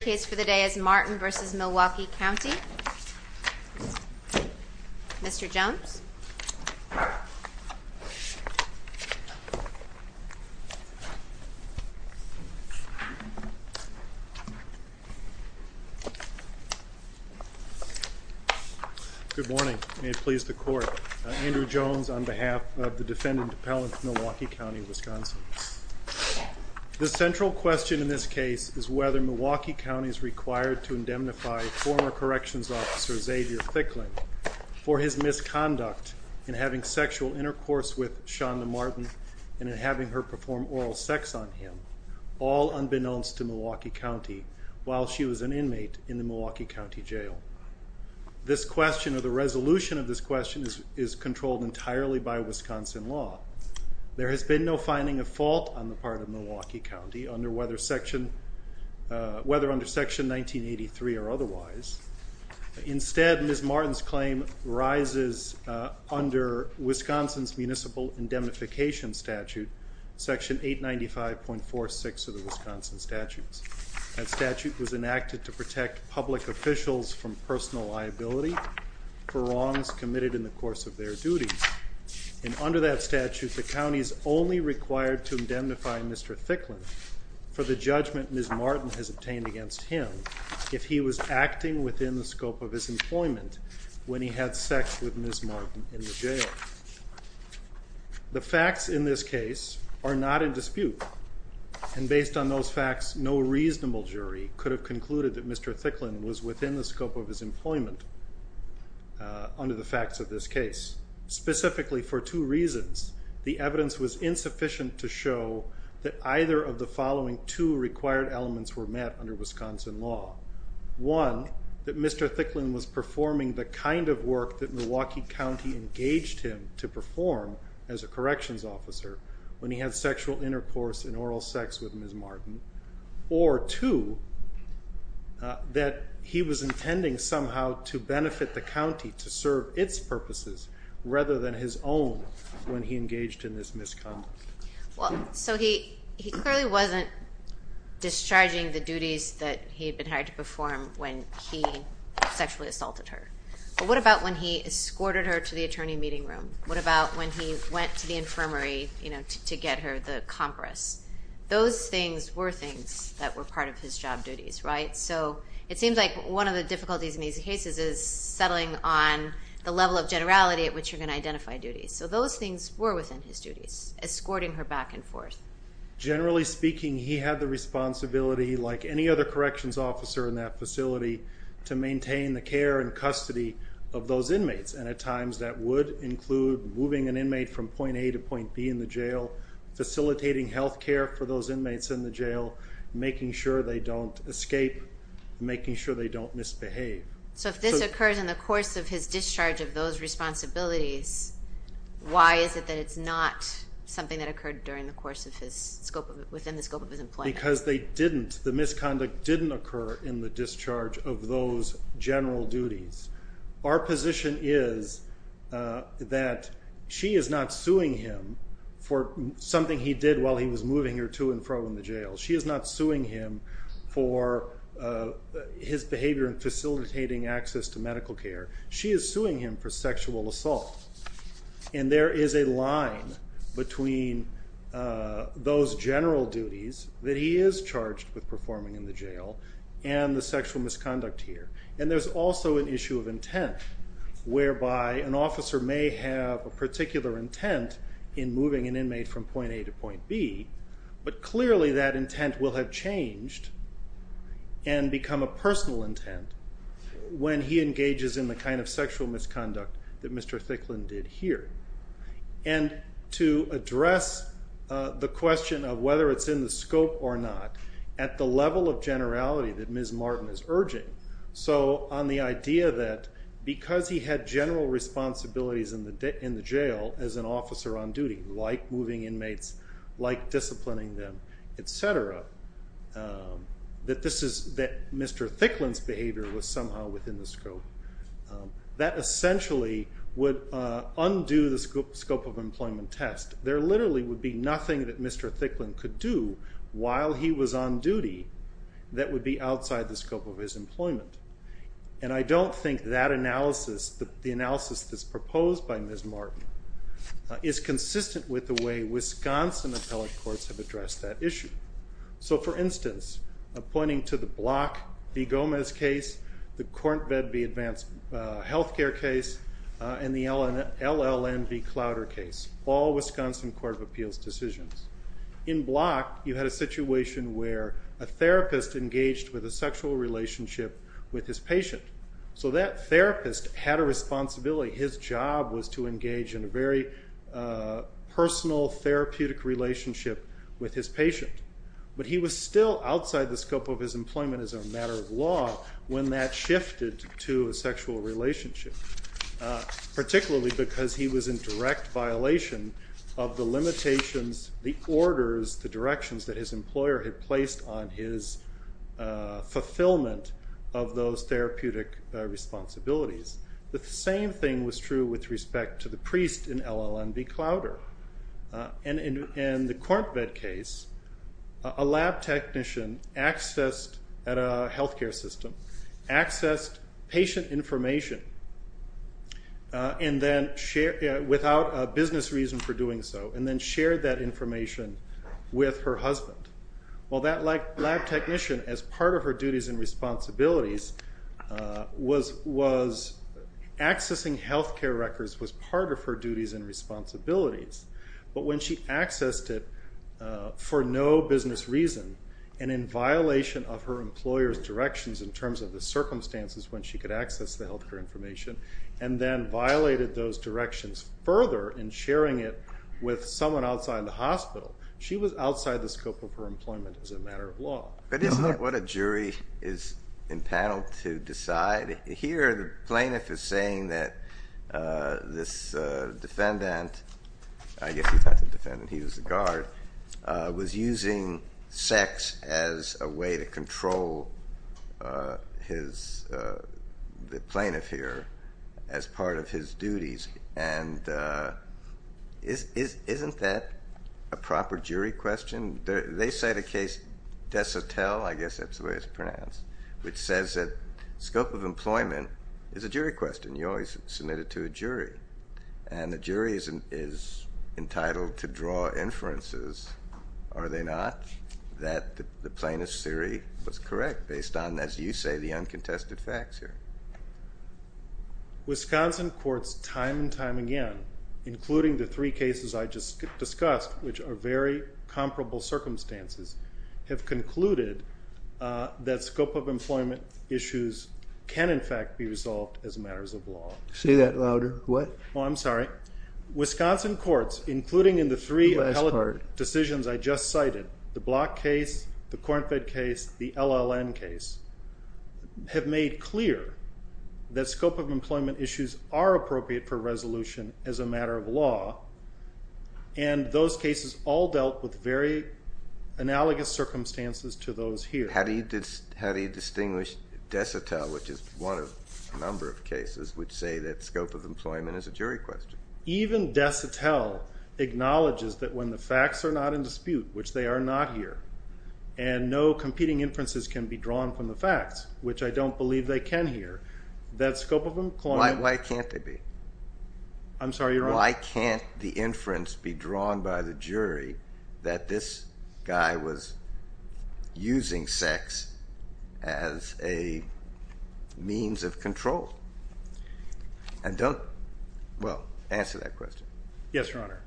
case for the day is Martin v. Milwaukee County, Mr. Jones. Good morning, may it please the court. Andrew Jones on behalf of the defendant appellant Milwaukee County, Wisconsin. The central question in this case is whether Milwaukee County is required to indemnify former corrections officer Xavier Thickling for his misconduct in having sexual intercourse with Shonda Martin and in having her perform oral sex on him, all unbeknownst to Milwaukee County, while she was an inmate in the Milwaukee County Jail. This question or the resolution of this question is a fault on the part of Milwaukee County, whether under section 1983 or otherwise. Instead, Ms. Martin's claim rises under Wisconsin's Municipal Indemnification Statute, section 895.46 of the Wisconsin statutes. That statute was enacted to protect public officials from personal liability for wrongs committed in the course of their duties, and under that statute the county is only required to indemnify Mr. Thickling for the judgment Ms. Martin has obtained against him if he was acting within the scope of his employment when he had sex with Ms. Martin in the jail. The facts in this case are not in dispute, and based on those facts, no reasonable jury could have concluded that Mr. Thickling was within the scope of his employment under the facts of this case. Specifically for two reasons, the evidence was insufficient to show that either of the following two required elements were met under Wisconsin law. One, that Mr. Thickling was performing the kind of work that Milwaukee County engaged him to perform as a corrections officer when he had sexual intercourse and oral sex with Ms. Martin, or two, that he was intending somehow to benefit the county to serve its purposes rather than his own when he engaged in this misconduct. Well, so he clearly wasn't discharging the duties that he had been hired to perform when he sexually assaulted her, but what about when he escorted her to the attorney meeting room? What about when he went to the infirmary, you know, to get her the compress? Those things were things that were part of his job duties, right? So it seems like one of the difficulties in these cases is settling on the level of generality at which you're going to identify duties. So those things were within his duties, escorting her back and forth. Generally speaking, he had the responsibility, like any other corrections officer in that facility, to maintain the care and custody of those inmates, and at times that would include moving an inmate from point A to point B in the jail, facilitating health care for those inmates in the jail, making sure they don't escape, making sure they don't misbehave. So if this occurs in the course of his discharge of those responsibilities, why is it that it's not something that occurred during the course of his scope, within the scope of his employment? Because they didn't, the misconduct didn't occur in the discharge of those general duties. Our position is that she is not suing him for something he did while he was moving her to and facilitating access to medical care. She is suing him for sexual assault. And there is a line between those general duties that he is charged with performing in the jail and the sexual misconduct here. And there's also an issue of intent, whereby an officer may have a particular intent in moving an inmate from point A to point B, but clearly that intent will have changed and become a personal intent when he engages in the kind of sexual misconduct that Mr. Thicklin did here. And to address the question of whether it's in the scope or not, at the level of generality that Ms. Martin is urging, so on the idea that because he had general responsibilities in the jail as an officer on duty, like moving inmates, like disciplining them, etc., that Mr. Thicklin's behavior was somehow within the scope, that essentially would undo the scope of employment test. There literally would be nothing that Mr. Thicklin could do while he was on duty that would be outside the scope of his employment. And I don't think that analysis, the analysis that's proposed by Ms. Martin, is consistent with the way Wisconsin appellate courts have addressed that issue. So for instance, pointing to the Block v. Gomez case, the Corntved v. Advance Healthcare case, and the LLN v. Clowder case, all Wisconsin Court of Appeals decisions. In Block, you had a situation where a therapist engaged with a sexual relationship with his patient. So that therapist had a responsibility. His job was to engage in a very personal therapeutic relationship with his patient. But he was still outside the scope of his employment as a matter of law when that shifted to a sexual relationship, particularly because he was in direct violation of the limitations, the orders, the directions that his employer had placed on his fulfillment of those therapeutic responsibilities. The same thing was true with respect to the priest in LLN v. Clowder. And in the Corntved case, a lab technician accessed, at a health care system, accessed patient information and then shared, without a business reason for doing so, and then shared that information with her husband. Well that lab technician, as part of her responsibilities, was accessing health care records was part of her duties and responsibilities. But when she accessed it for no business reason, and in violation of her employer's directions in terms of the circumstances when she could access the health care information, and then violated those directions further in sharing it with someone outside the hospital, she was outside the panel to decide. Here the plaintiff is saying that this defendant, I guess he's not the defendant, he was the guard, was using sex as a way to control his, the plaintiff here, as part of his duties. And isn't that a proper jury question? They cite a case, Desotel, I guess that's the way it's pronounced, which says that scope of employment is a jury question. You always submit it to a jury. And the jury is entitled to draw inferences, are they not, that the plaintiff's theory was correct based on, as you say, the uncontested facts here. Wisconsin courts time and time again, including the three cases I just discussed, which are very comparable circumstances, have concluded that scope of employment issues can in fact be resolved as matters of law. Say that louder. What? Oh, I'm sorry. Wisconsin courts, including in the three decisions I just cited, the Block case, the Cornfed case, the LLN case, have made clear that scope of employment issues are appropriate for resolution as a matter of law. And those cases all dealt with very analogous circumstances to those here. How do you distinguish Desotel, which is one of a number of cases, which say that scope of employment is a jury question? Even Desotel acknowledges that when the facts are not in dispute, which they are not here, and no competing inferences can be drawn from the facts, which I don't believe they can here, that scope of employment... Why can't they be? I'm sorry, Your Honor? Why can't the inference be drawn by the jury that this guy was using sex as a means of control? And don't... well, answer that question. Yes, Your Honor.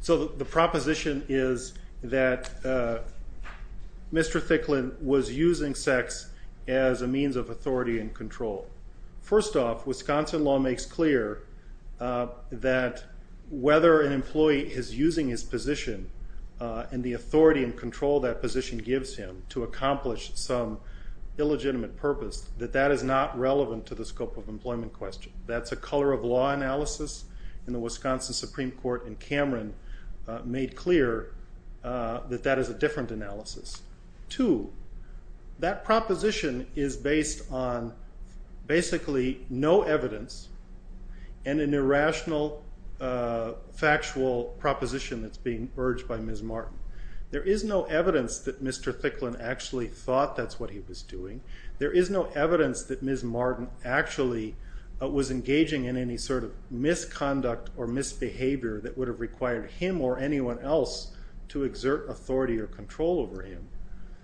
So the proposition is that Mr. Thicklin was using sex as a means of authority and control. First off, Wisconsin law makes clear that whether an employee is using his position and the authority and control that position gives him to accomplish some illegitimate purpose, that that is not relevant to the scope of employment question. That's a color of law analysis in the Wisconsin Supreme Court, and analysis. Two, that proposition is based on basically no evidence and an irrational factual proposition that's being urged by Ms. Martin. There is no evidence that Mr. Thicklin actually thought that's what he was doing. There is no evidence that Ms. Martin actually was engaging in any sort of misconduct or misbehavior that would have required him or anyone else to pull over him.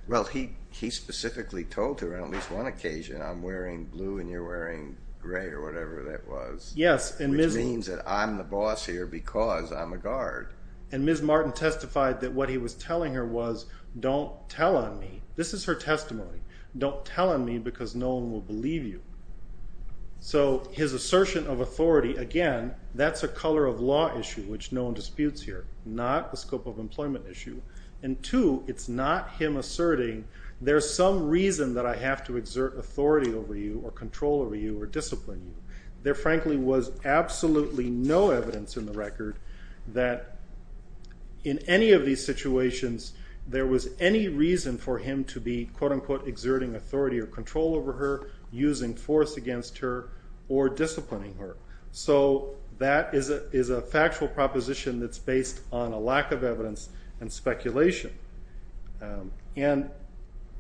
Well, he specifically told her on at least one occasion, I'm wearing blue and you're wearing gray or whatever that was. Yes. Which means that I'm the boss here because I'm a guard. And Ms. Martin testified that what he was telling her was, don't tell on me. This is her testimony. Don't tell on me because no one will believe you. So his assertion of authority, again, that's a color of law issue which no one disputes here. Not the scope of employment issue. And two, it's not him asserting there's some reason that I have to exert authority over you or control over you or discipline you. There frankly was absolutely no evidence in the record that in any of these situations there was any reason for him to be quote-unquote exerting authority or control over her, using force against her, or disciplining her. So that is a factual proposition that's based on a lack of evidence and speculation. And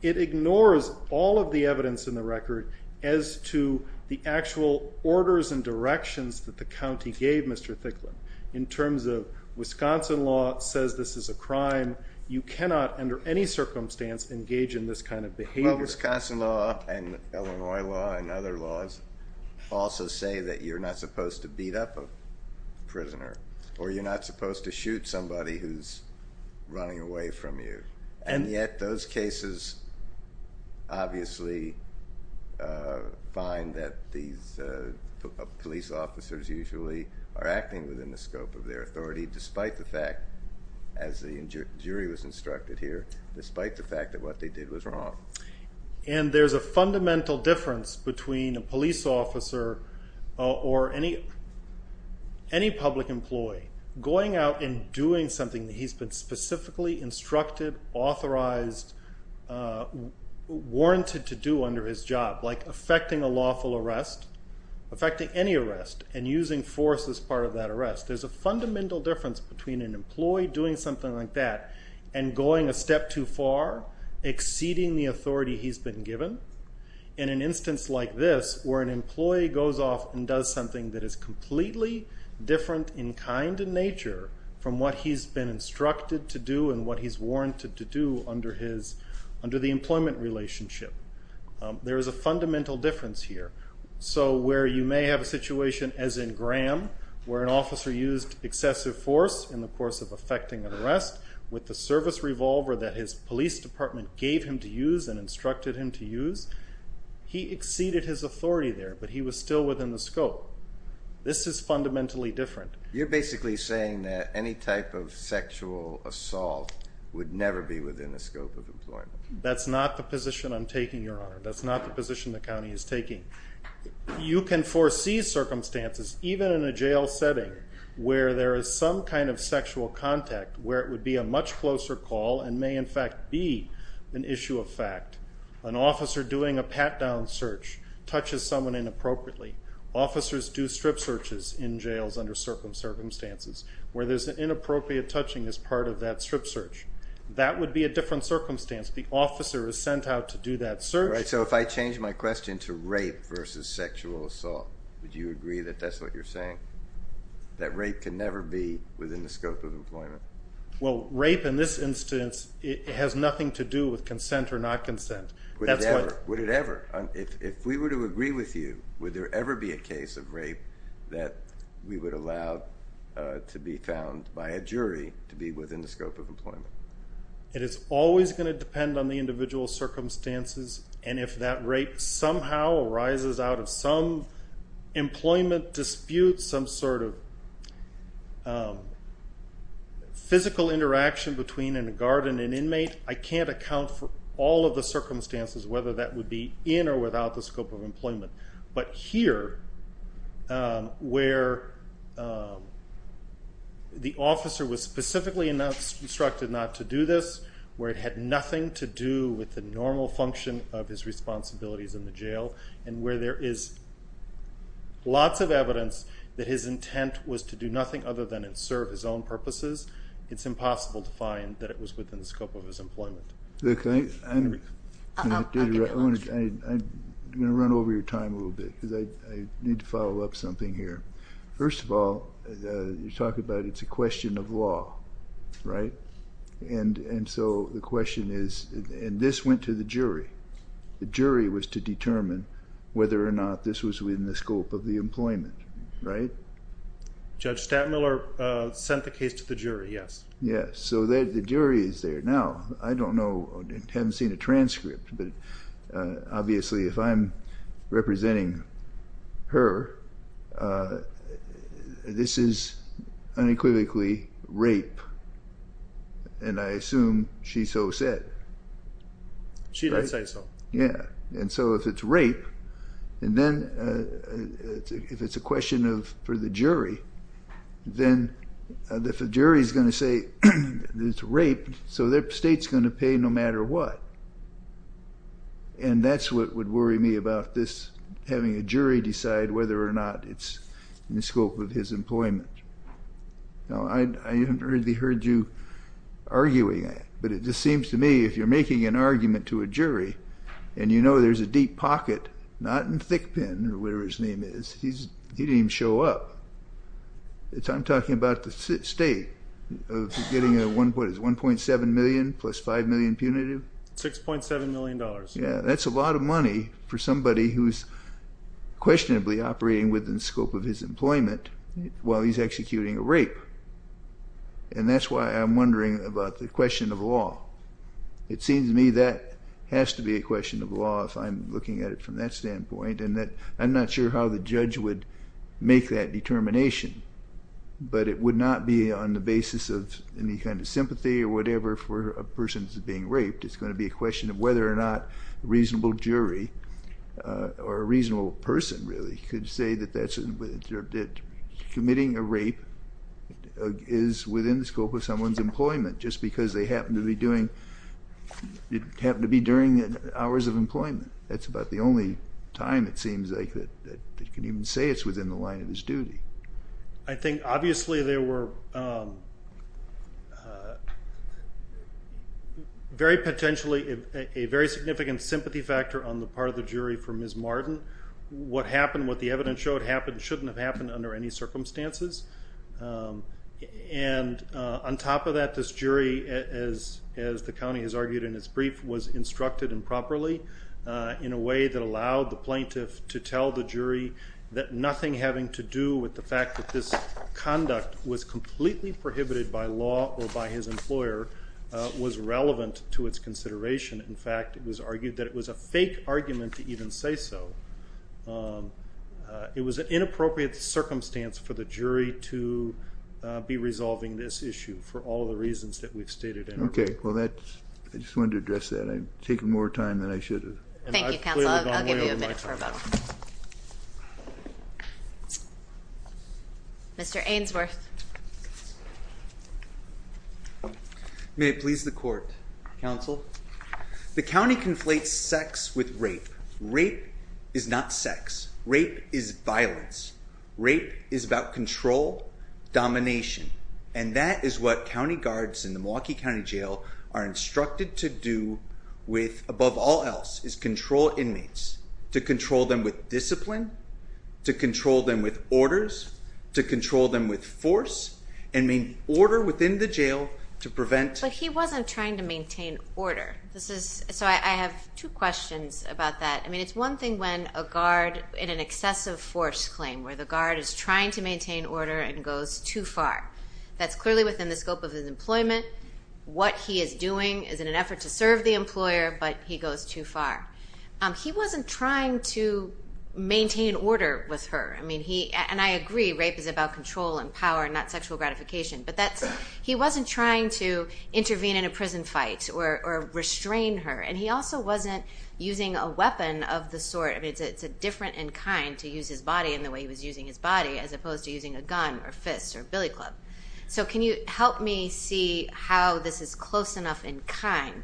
it ignores all of the evidence in the record as to the actual orders and directions that the county gave Mr. Thicklin. In terms of Wisconsin law says this is a crime. You cannot under any circumstance engage in this kind of behavior. Well, Wisconsin law and Illinois law and other laws also say that you're not supposed to beat up a prisoner or you're not supposed to shoot somebody who's running away from you. And yet those cases obviously find that these police officers usually are acting within the scope of their authority despite the fact, as the jury was instructed here, despite the fact that what they did was wrong. And there's a fundamental difference between a police officer or any public employee going out and doing something that he's been specifically instructed, authorized, warranted to do under his job, like affecting a lawful arrest, affecting any arrest, and using force as part of that arrest. There's a fundamental difference between an employee doing something like that and going a step too far, exceeding the authority he's been given, and an instance like this where an employee goes off and does something that is completely different in kind and nature from what he's been instructed to do and what he's warranted to do under the employment relationship. There is a fundamental difference here. So where you may have a situation as in Graham where an officer used excessive force in the course of affecting an arrest with the service revolver that his police department gave him to use and instructed him to use, he exceeded his authority there, but he was still within the scope. This is fundamentally different. You're basically saying that any type of sexual assault would never be within the scope of employment. That's not the position I'm taking, Your Honor. That's not the position the county is taking. You can foresee circumstances, even in a jail setting, where there is some kind of sexual contact where it would be a much closer call and may in fact be an issue of fact. An officer doing a pat-down search touches someone inappropriately. Officers do strip searches in jails under circumstances where there's an inappropriate touching as part of that strip search. That would be a different circumstance. The officer is sent out to do that search. So if I change my question to rape versus sexual assault, would you agree that that's what you're saying? That rape can never be within the scope of employment? Well, rape in this instance has nothing to do with consent or not consent. Would it ever? If we were to agree with you, would there ever be a case of rape that we would allow to be found by a jury to be within the scope of employment? It is always going to depend on the individual circumstances and if that rape somehow arises out of some employment dispute, some sort of physical interaction between a guard and an inmate, I can't account for all of the circumstances whether that would be in or without the scope of employment. But here, where the officer was specifically instructed not to do this, where it had nothing to do with the normal function of his responsibilities in the jail, and where there is lots of evidence that his intent was to do nothing other than serve his own purposes, it's impossible to find that it was within the scope of his employment. I'm going to run over your time a little bit because I need to follow up something here. First of all, you talk about it's a the question is, and this went to the jury, the jury was to determine whether or not this was within the scope of the employment, right? Judge Stattmiller sent the case to the jury, yes. Yes, so the jury is there. Now, I don't know, I haven't seen a transcript, but obviously if I'm representing her, this is unequivocally rape, and I assume she so said. She did say so. Yeah, and so if it's rape, and then if it's a question for the jury, then the jury is going to say it's raped, so the state's going to pay no matter what. And that's what would worry me about this, having a jury decide whether or not it's in the scope of his employment. Now, I haven't heard you arguing it, but it just seems to me if you're making an argument to a jury, and you know there's a deep pocket, not in Thickpin, or whatever his name is, he didn't even show up. I'm talking about the state of getting a 1.7 million plus 5 million punitive. 6.7 million dollars. Yeah, that's a lot of money for somebody who's unquestionably operating within the scope of his employment while he's executing a rape, and that's why I'm wondering about the question of law. It seems to me that has to be a question of law if I'm looking at it from that standpoint, and that I'm not sure how the judge would make that determination, but it would not be on the basis of any kind of sympathy or whatever for a person being raped. It's going to be a question of whether or not a reasonable jury or a judge really could say that committing a rape is within the scope of someone's employment, just because they happen to be doing, it happened to be during the hours of employment. That's about the only time it seems like that they can even say it's within the line of his duty. I think obviously there were very potentially, a very significant sympathy factor on the part of the jury for Ms. Martin. What happened, what the evidence showed happened, shouldn't have happened under any circumstances, and on top of that this jury, as the county has argued in its brief, was instructed improperly in a way that allowed the plaintiff to tell the jury that nothing having to do with the fact that this conduct was completely prohibited by law or by his employer was relevant to its say so. It was an inappropriate circumstance for the jury to be resolving this issue for all the reasons that we've stated. Okay, well that's, I just wanted to address that. I'm taking more time than I should have. Mr. Ainsworth. May it please the court, counsel. The county conflates sex with rape. Rape is not sex. Rape is violence. Rape is about control, domination, and that is what county guards in the Milwaukee County Jail are instructed to do with, above all else, is control inmates. To control them with discipline, to control them with orders, to control them with force, and main order within the jail to prevent... But he wasn't trying to maintain order. This is, so I have two questions about that. I mean, it's one thing when a guard in an excessive force claim, where the guard is trying to maintain order and goes too far. That's clearly within the scope of his employment. What he is doing is in an effort to serve the employer, but he goes too far. He wasn't trying to maintain order with her. I mean, he, and I agree, rape is about control and power and not sexual gratification, but that's, he wasn't trying to intervene in a prison fight or restrain her, and he also wasn't using a weapon of the sort. I mean, it's a different in kind to use his body in the way he was using his body as opposed to using a gun or fists or billy club. So can you help me see how this is close enough in kind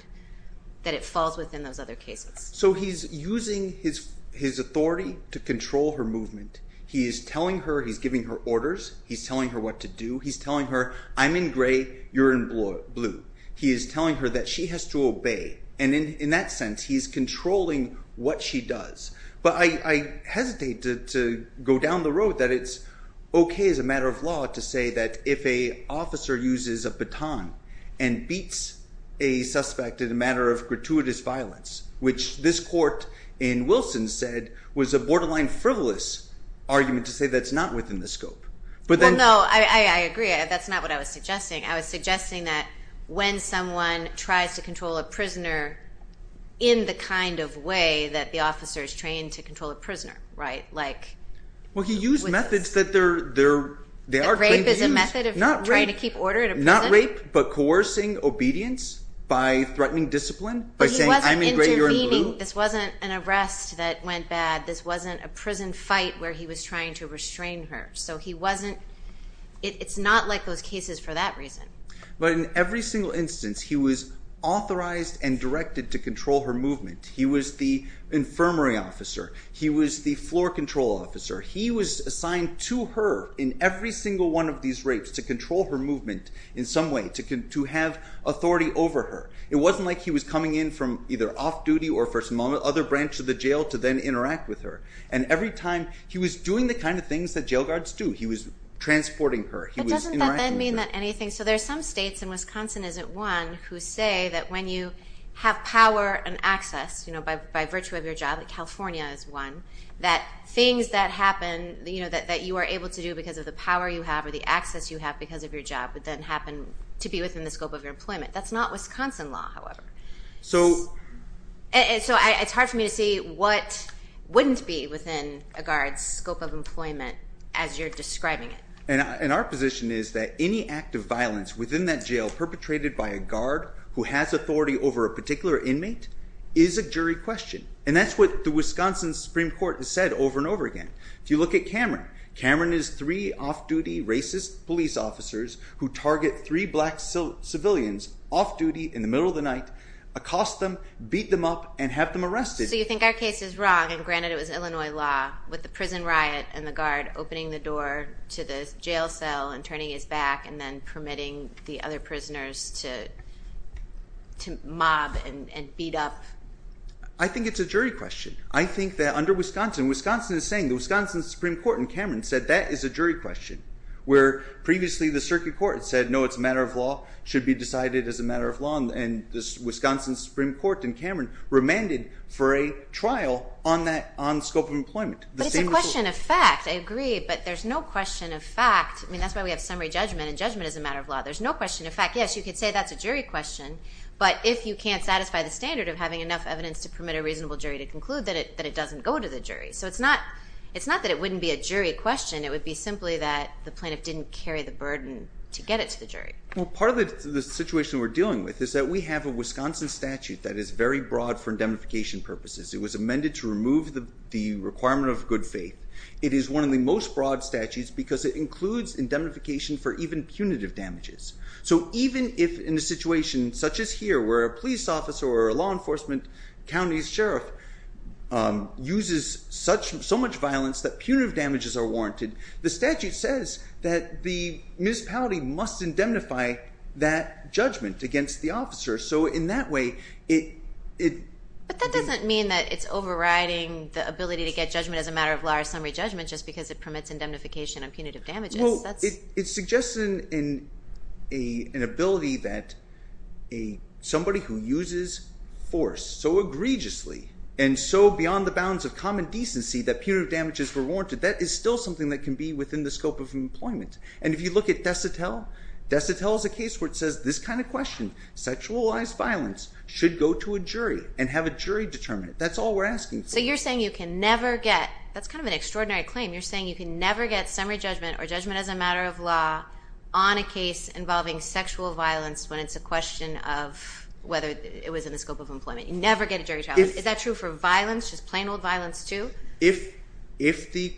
that it falls within those other cases? So he's using his authority to control her movement. He is telling her, he's giving her orders. He's telling her what to do. He's telling her, I'm in gray, you're in blue. He is telling her that she has to obey. And in that sense, he's controlling what she does. But I hesitate to go down the road that it's okay as a matter of law to say that if a officer uses a baton and beats a suspect in a matter of gratuitous violence, which this court in Wilson said was a borderline frivolous argument to say that's not within the scope. Well, no, I agree. That's not what I was suggesting, that when someone tries to control a prisoner in the kind of way that the officer is trained to control a prisoner, right? Well, he used methods that they are trained to use. Rape is a method of trying to keep order in a prison? Not rape, but coercing obedience by threatening discipline by saying I'm in gray, you're in blue. This wasn't an arrest that went bad. This wasn't a prison fight where he was trying to restrain her. So he wasn't, it's not like those cases for that reason. But in every single instance, he was authorized and directed to control her movement. He was the infirmary officer. He was the floor control officer. He was assigned to her in every single one of these rapes to control her movement in some way to have authority over her. It wasn't like he was coming in from either off-duty or for some other branch of the jail to then interact with her. And every time he was doing the kind of things that jail So there are some states, and Wisconsin isn't one, who say that when you have power and access, you know, by virtue of your job, like California is one, that things that happen, you know, that you are able to do because of the power you have or the access you have because of your job, but then happen to be within the scope of your employment. That's not Wisconsin law, however. So it's hard for me to see what wouldn't be within a guard's scope of employment as you're within that jail perpetrated by a guard who has authority over a particular inmate is a jury question. And that's what the Wisconsin Supreme Court has said over and over again. If you look at Cameron, Cameron is three off-duty racist police officers who target three black civilians off-duty in the middle of the night, accost them, beat them up, and have them arrested. So you think our case is wrong, and granted it was Illinois law, with the prison riot and the guard opening the door to the jail cell and turning his back and then permitting the other prisoners to mob and beat up? I think it's a jury question. I think that under Wisconsin, Wisconsin is saying, the Wisconsin Supreme Court and Cameron said that is a jury question, where previously the circuit court said no, it's a matter of law, should be decided as a matter of law, and this Wisconsin Supreme Court and Cameron remanded for a trial on that, on scope of employment. But it's a question of law. I agree, but there's no question of fact, I mean that's why we have summary judgment, and judgment is a matter of law. There's no question of fact. Yes, you could say that's a jury question, but if you can't satisfy the standard of having enough evidence to permit a reasonable jury to conclude that it doesn't go to the jury. So it's not that it wouldn't be a jury question, it would be simply that the plaintiff didn't carry the burden to get it to the jury. Well, part of the situation we're dealing with is that we have a Wisconsin statute that is very broad for indemnification purposes. It was amended to remove the requirement of good faith. It is one of the most broad statutes because it includes indemnification for even punitive damages. So even if in a situation such as here, where a police officer or a law enforcement county's sheriff uses so much violence that punitive damages are warranted, the statute says that the municipality must indemnify that judgment against the officer, so in that way it... But that doesn't mean that it's overriding the judgment as a matter of law or summary judgment just because it permits indemnification on punitive damages. Well, it suggests an ability that somebody who uses force so egregiously and so beyond the bounds of common decency that punitive damages were warranted, that is still something that can be within the scope of employment. And if you look at Dessatelle, Dessatelle is a case where it says this kind of question, sexualized violence, should go to a jury and have a jury determine it. That's all we're asking. So you're saying you can never get, that's kind of an extraordinary claim, you're saying you can never get summary judgment or judgment as a matter of law on a case involving sexual violence when it's a question of whether it was in the scope of employment. You never get a jury trial. Is that true for violence, just plain old violence too? If the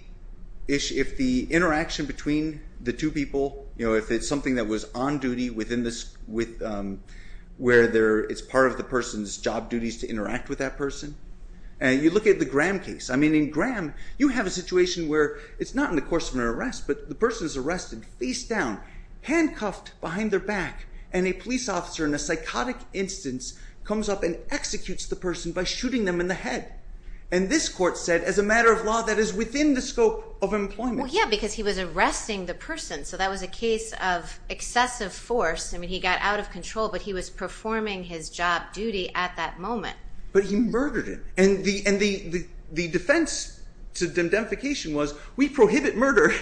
interaction between the two people, you know, if it's something that was on duty within this, where it's part of the person's job duties to interact with that person, and you look at the Graham case, I mean in Graham you have a situation where it's not in the course of an arrest, but the person is arrested face down, handcuffed behind their back, and a police officer in a psychotic instance comes up and executes the person by shooting them in the head. And this court said as a matter of law that is within the scope of employment. Yeah, because he was arresting the person, so that was a case of excessive force, I mean he got out of control, but he was the defense to indemnification was we prohibit murder.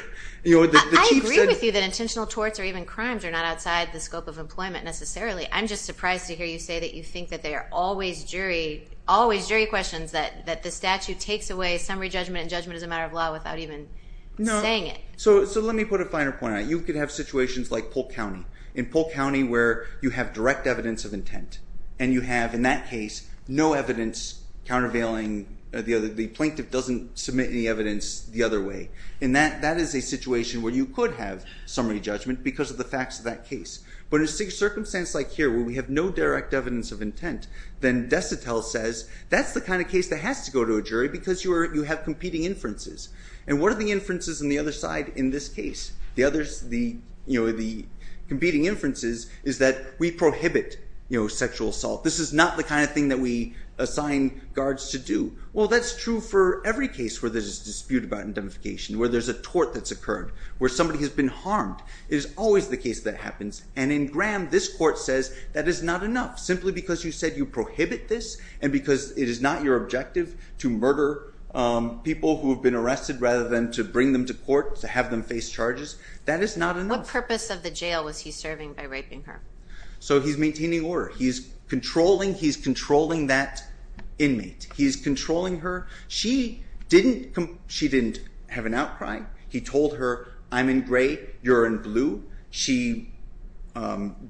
I agree with you that intentional torts or even crimes are not outside the scope of employment necessarily. I'm just surprised to hear you say that you think that there are always jury questions, that the statute takes away summary judgment and judgment as a matter of law without even saying it. So let me put a finer point on it. You could have situations like Polk County. In Polk County where you have direct evidence of intent, the plaintiff doesn't submit any evidence the other way. And that is a situation where you could have summary judgment because of the facts of that case. But in a circumstance like here where we have no direct evidence of intent, then DeSotel says that's the kind of case that has to go to a jury because you have competing inferences. And what are the inferences on the other side in this case? The competing inferences is that we prohibit sexual assault. This is not the kind of thing that we assign guards to Well that's true for every case where there's a dispute about indemnification, where there's a tort that's occurred, where somebody has been harmed. It is always the case that happens and in Graham this court says that is not enough. Simply because you said you prohibit this and because it is not your objective to murder people who have been arrested rather than to bring them to court, to have them face charges, that is not enough. What purpose of the jail was he serving by raping her? So he's maintaining order. He's controlling, he's controlling her. She didn't have an outcry. He told her I'm in gray, you're in blue. She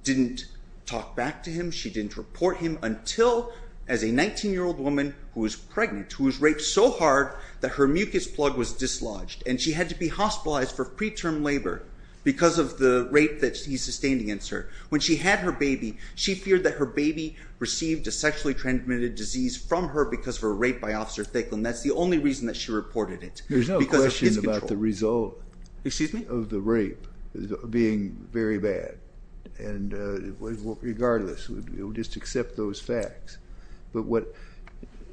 didn't talk back to him. She didn't report him until as a 19-year-old woman who was pregnant, who was raped so hard that her mucus plug was dislodged and she had to be hospitalized for preterm labor because of the rape that he sustained against her. When she had her baby, she feared that her baby received a sexually transmitted disease from her because of rape by Officer Thicklin. That's the only reason that she reported it. There's no question about the result of the rape being very bad and regardless, we'll just accept those facts but what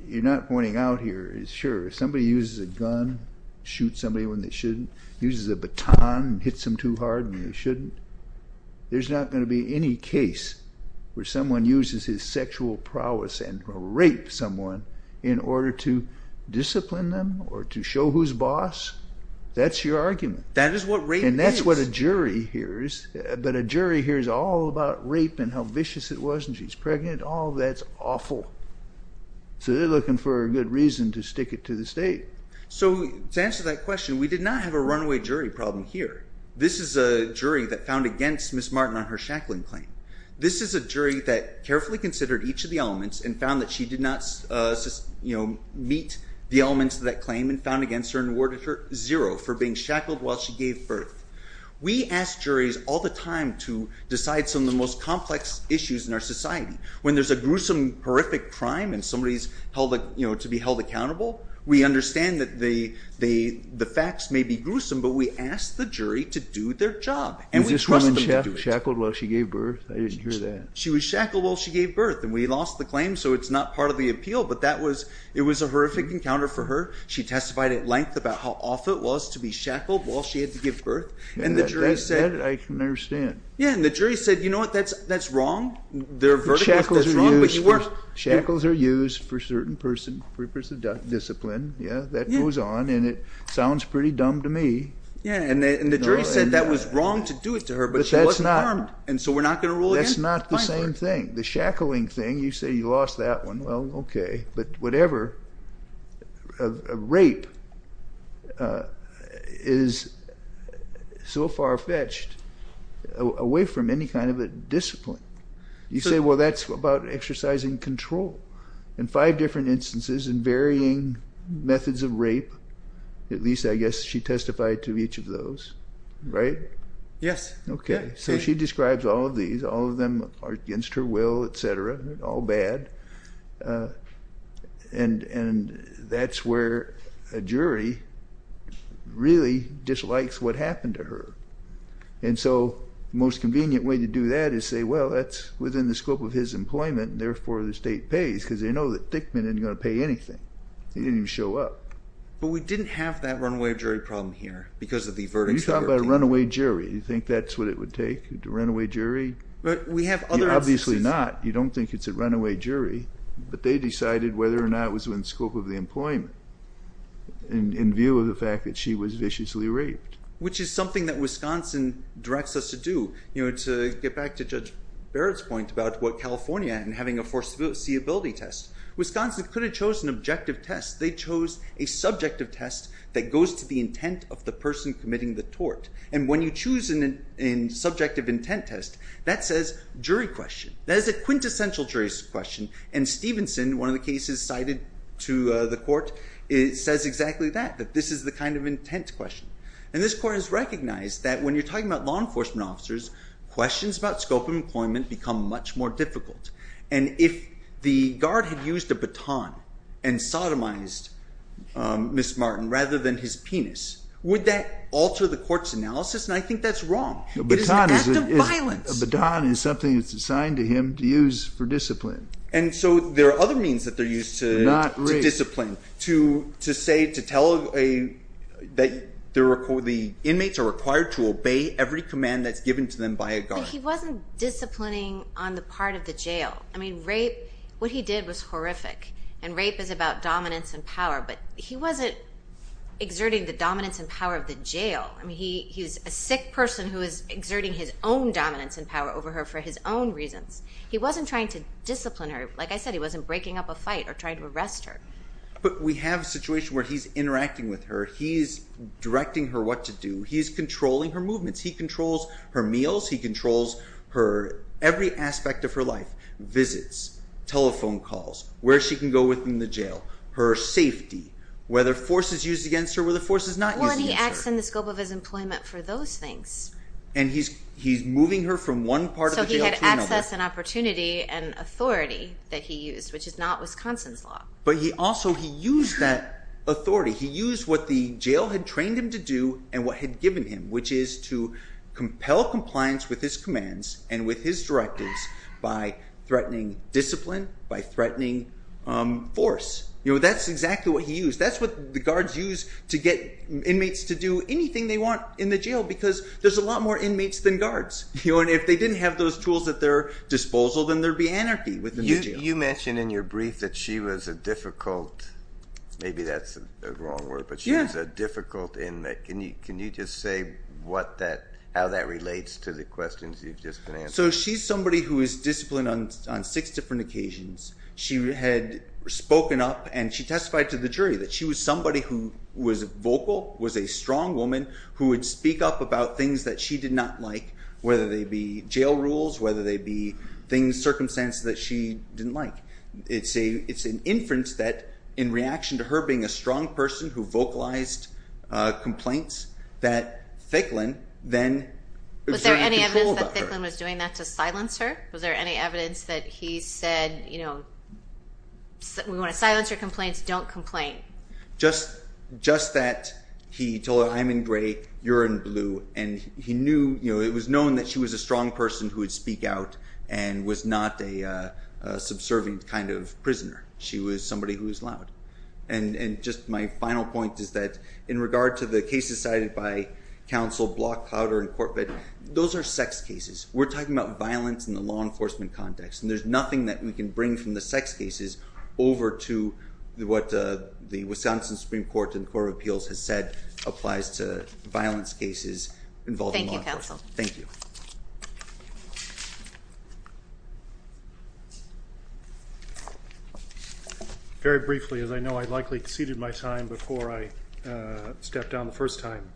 you're not pointing out here is sure somebody uses a gun, shoots somebody when they shouldn't, uses a baton, hits them too hard when they shouldn't. There's not going to be any case where someone uses his sexual prowess and rape someone in order to discipline them or to show who's boss. That's your argument. That is what rape is. And that's what a jury hears but a jury hears all about rape and how vicious it was and she's pregnant. All that's awful. So they're looking for a good reason to stick it to the state. So to answer that question, we did not have a runaway jury problem here. This is a jury that found against Miss Martin on her shackling claim. This is a jury that carefully considered each of the elements and found that she did not meet the elements of that claim and found against her and awarded her zero for being shackled while she gave birth. We ask juries all the time to decide some of the most complex issues in our society. When there's a gruesome, horrific crime and somebody's to be held accountable, we understand that the facts may be gruesome but we ask the jury to do their job and we trust them to do it. Was this woman shackled while she gave birth? I didn't hear that. She was shackled while she gave birth and we lost the claim so it's not part of the appeal but that was it was a horrific encounter for her. She testified at length about how awful it was to be shackled while she had to give birth and the jury said. I can understand. Yeah and the jury said you know what that's that's wrong. Their verdict was wrong but you weren't. Shackles are used for certain person for discipline. Yeah that goes on and it sounds pretty dumb to me. Yeah and the jury said that was wrong to do it to her but she wasn't harmed and so we're not going to rule. That's not the same thing. The shackling thing you say you lost that one well okay but whatever. Rape is so far-fetched away from any kind of a discipline. You say well that's about exercising control. In five different instances and varying methods of rape at least I guess she testified to each of those right? Yes. Okay so she describes all of these all of them are against her will etc. They're all bad and and that's where a jury really dislikes what happened to her and so most convenient way to do that is say well that's within the scope of his employment and therefore the state pays because they know that Thickman isn't going to pay anything. He didn't even show up. But we You're talking about a runaway jury. You think that's what it would take? A runaway jury? But we have other. Obviously not. You don't think it's a runaway jury but they decided whether or not was within scope of the employment in view of the fact that she was viciously raped. Which is something that Wisconsin directs us to do you know to get back to Judge Barrett's point about what California and having a foreseeability test. Wisconsin could have chosen an objective test. They chose a committing the tort and when you choose an in subjective intent test that says jury question. That is a quintessential jury's question and Stevenson one of the cases cited to the court it says exactly that. That this is the kind of intent question and this court has recognized that when you're talking about law enforcement officers questions about scope employment become much more difficult and if the guard had used a baton and sodomized Miss Martin rather than his penis would that alter the court's analysis and I think that's wrong. A baton is something that's assigned to him to use for discipline. And so there are other means that they're used to discipline to to say to tell a that the inmates are required to obey every command that's given to them by a guard. He wasn't disciplining on the part of the jail. I mean rape what he did was horrific and rape is about dominance and exerting the dominance and power of the jail and he he's a sick person who is exerting his own dominance and power over her for his own reasons. He wasn't trying to discipline her. Like I said he wasn't breaking up a fight or trying to arrest her. But we have a situation where he's interacting with her. He's directing her what to do. He's controlling her movements. He controls her meals. He controls her every aspect of her life visits telephone calls where she can go within the jail. Her safety. Whether force is used against her where the force is not. Well he acts in the scope of his employment for those things. And he's he's moving her from one part of the jail to another. So he had access and opportunity and authority that he used which is not Wisconsin's law. But he also he used that authority. He used what the jail had trained him to do and what had given him which is to compel compliance with his commands and with his directives by threatening discipline by threatening force. You know that's exactly what he used. That's what the guards use to get inmates to do anything they want in the jail because there's a lot more inmates than guards. You know and if they didn't have those tools at their disposal then there'd be anarchy within the jail. You mentioned in your brief that she was a difficult maybe that's a wrong word but she was a difficult inmate. Can you can you just say what that how that relates to the on six different occasions. She had spoken up and she testified to the jury that she was somebody who was vocal was a strong woman who would speak up about things that she did not like whether they be jail rules whether they be things circumstances that she didn't like. It's a it's an inference that in reaction to her being a strong person who vocalized complaints that Thicklin then. Was there any evidence that Thicklin was doing that to silence her? Was there any evidence that he said you know we want to silence your complaints don't complain. Just just that he told her I'm in gray you're in blue and he knew you know it was known that she was a strong person who would speak out and was not a subservient kind of prisoner. She was somebody who was loud and and just my cases cited by counsel block powder and corporate those are sex cases. We're talking about violence in the law enforcement context and there's nothing that we can bring from the sex cases over to what the Wisconsin Supreme Court and Court of Appeals has said applies to violence cases involving law enforcement. Thank you. Very briefly as I know I'd likely exceeded my time before I stepped down the first time.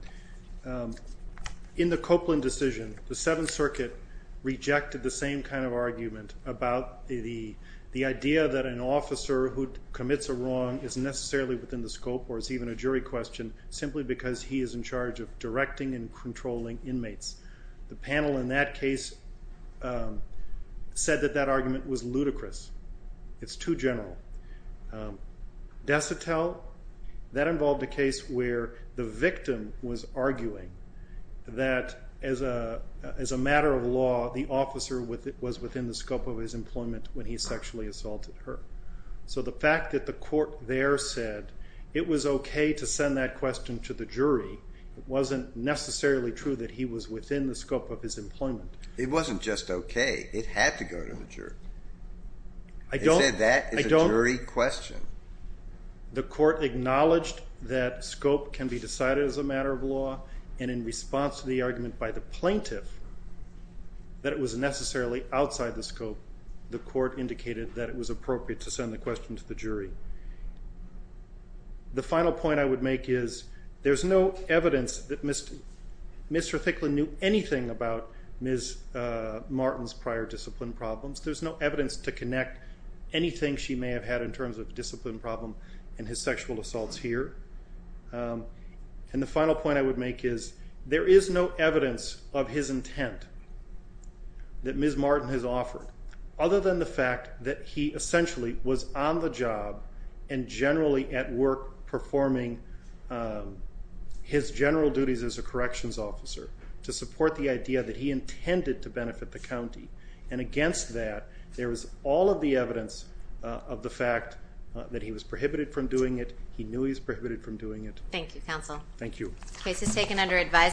In the Copeland decision the Seventh Circuit rejected the same kind of argument about the the idea that an officer who commits a wrong is necessarily within the scope or is even a jury question simply because he is in controlling inmates. The panel in that case said that that argument was ludicrous. It's too general. Desitel that involved a case where the victim was arguing that as a as a matter of law the officer with it was within the scope of his employment when he sexually assaulted her. So the fact that the court there said it was okay to send that question to the jury wasn't necessarily true that he was within the scope of his employment. It wasn't just okay it had to go to the jury. I don't think that is a jury question. The court acknowledged that scope can be decided as a matter of law and in response to the argument by the plaintiff that it was necessarily outside the scope the court indicated that it was appropriate to send the question to the jury. The Mr. Thicklin knew anything about Ms. Martin's prior discipline problems. There's no evidence to connect anything she may have had in terms of discipline problem and his sexual assaults here. And the final point I would make is there is no evidence of his intent that Ms. Martin has offered other than the fact that he essentially was on the job and generally at work performing his general duties as a corrections officer to support the idea that he intended to benefit the county and against that there was all of the evidence of the fact that he was prohibited from doing it. He knew he's prohibited from doing it. Thank you counsel. Thank you.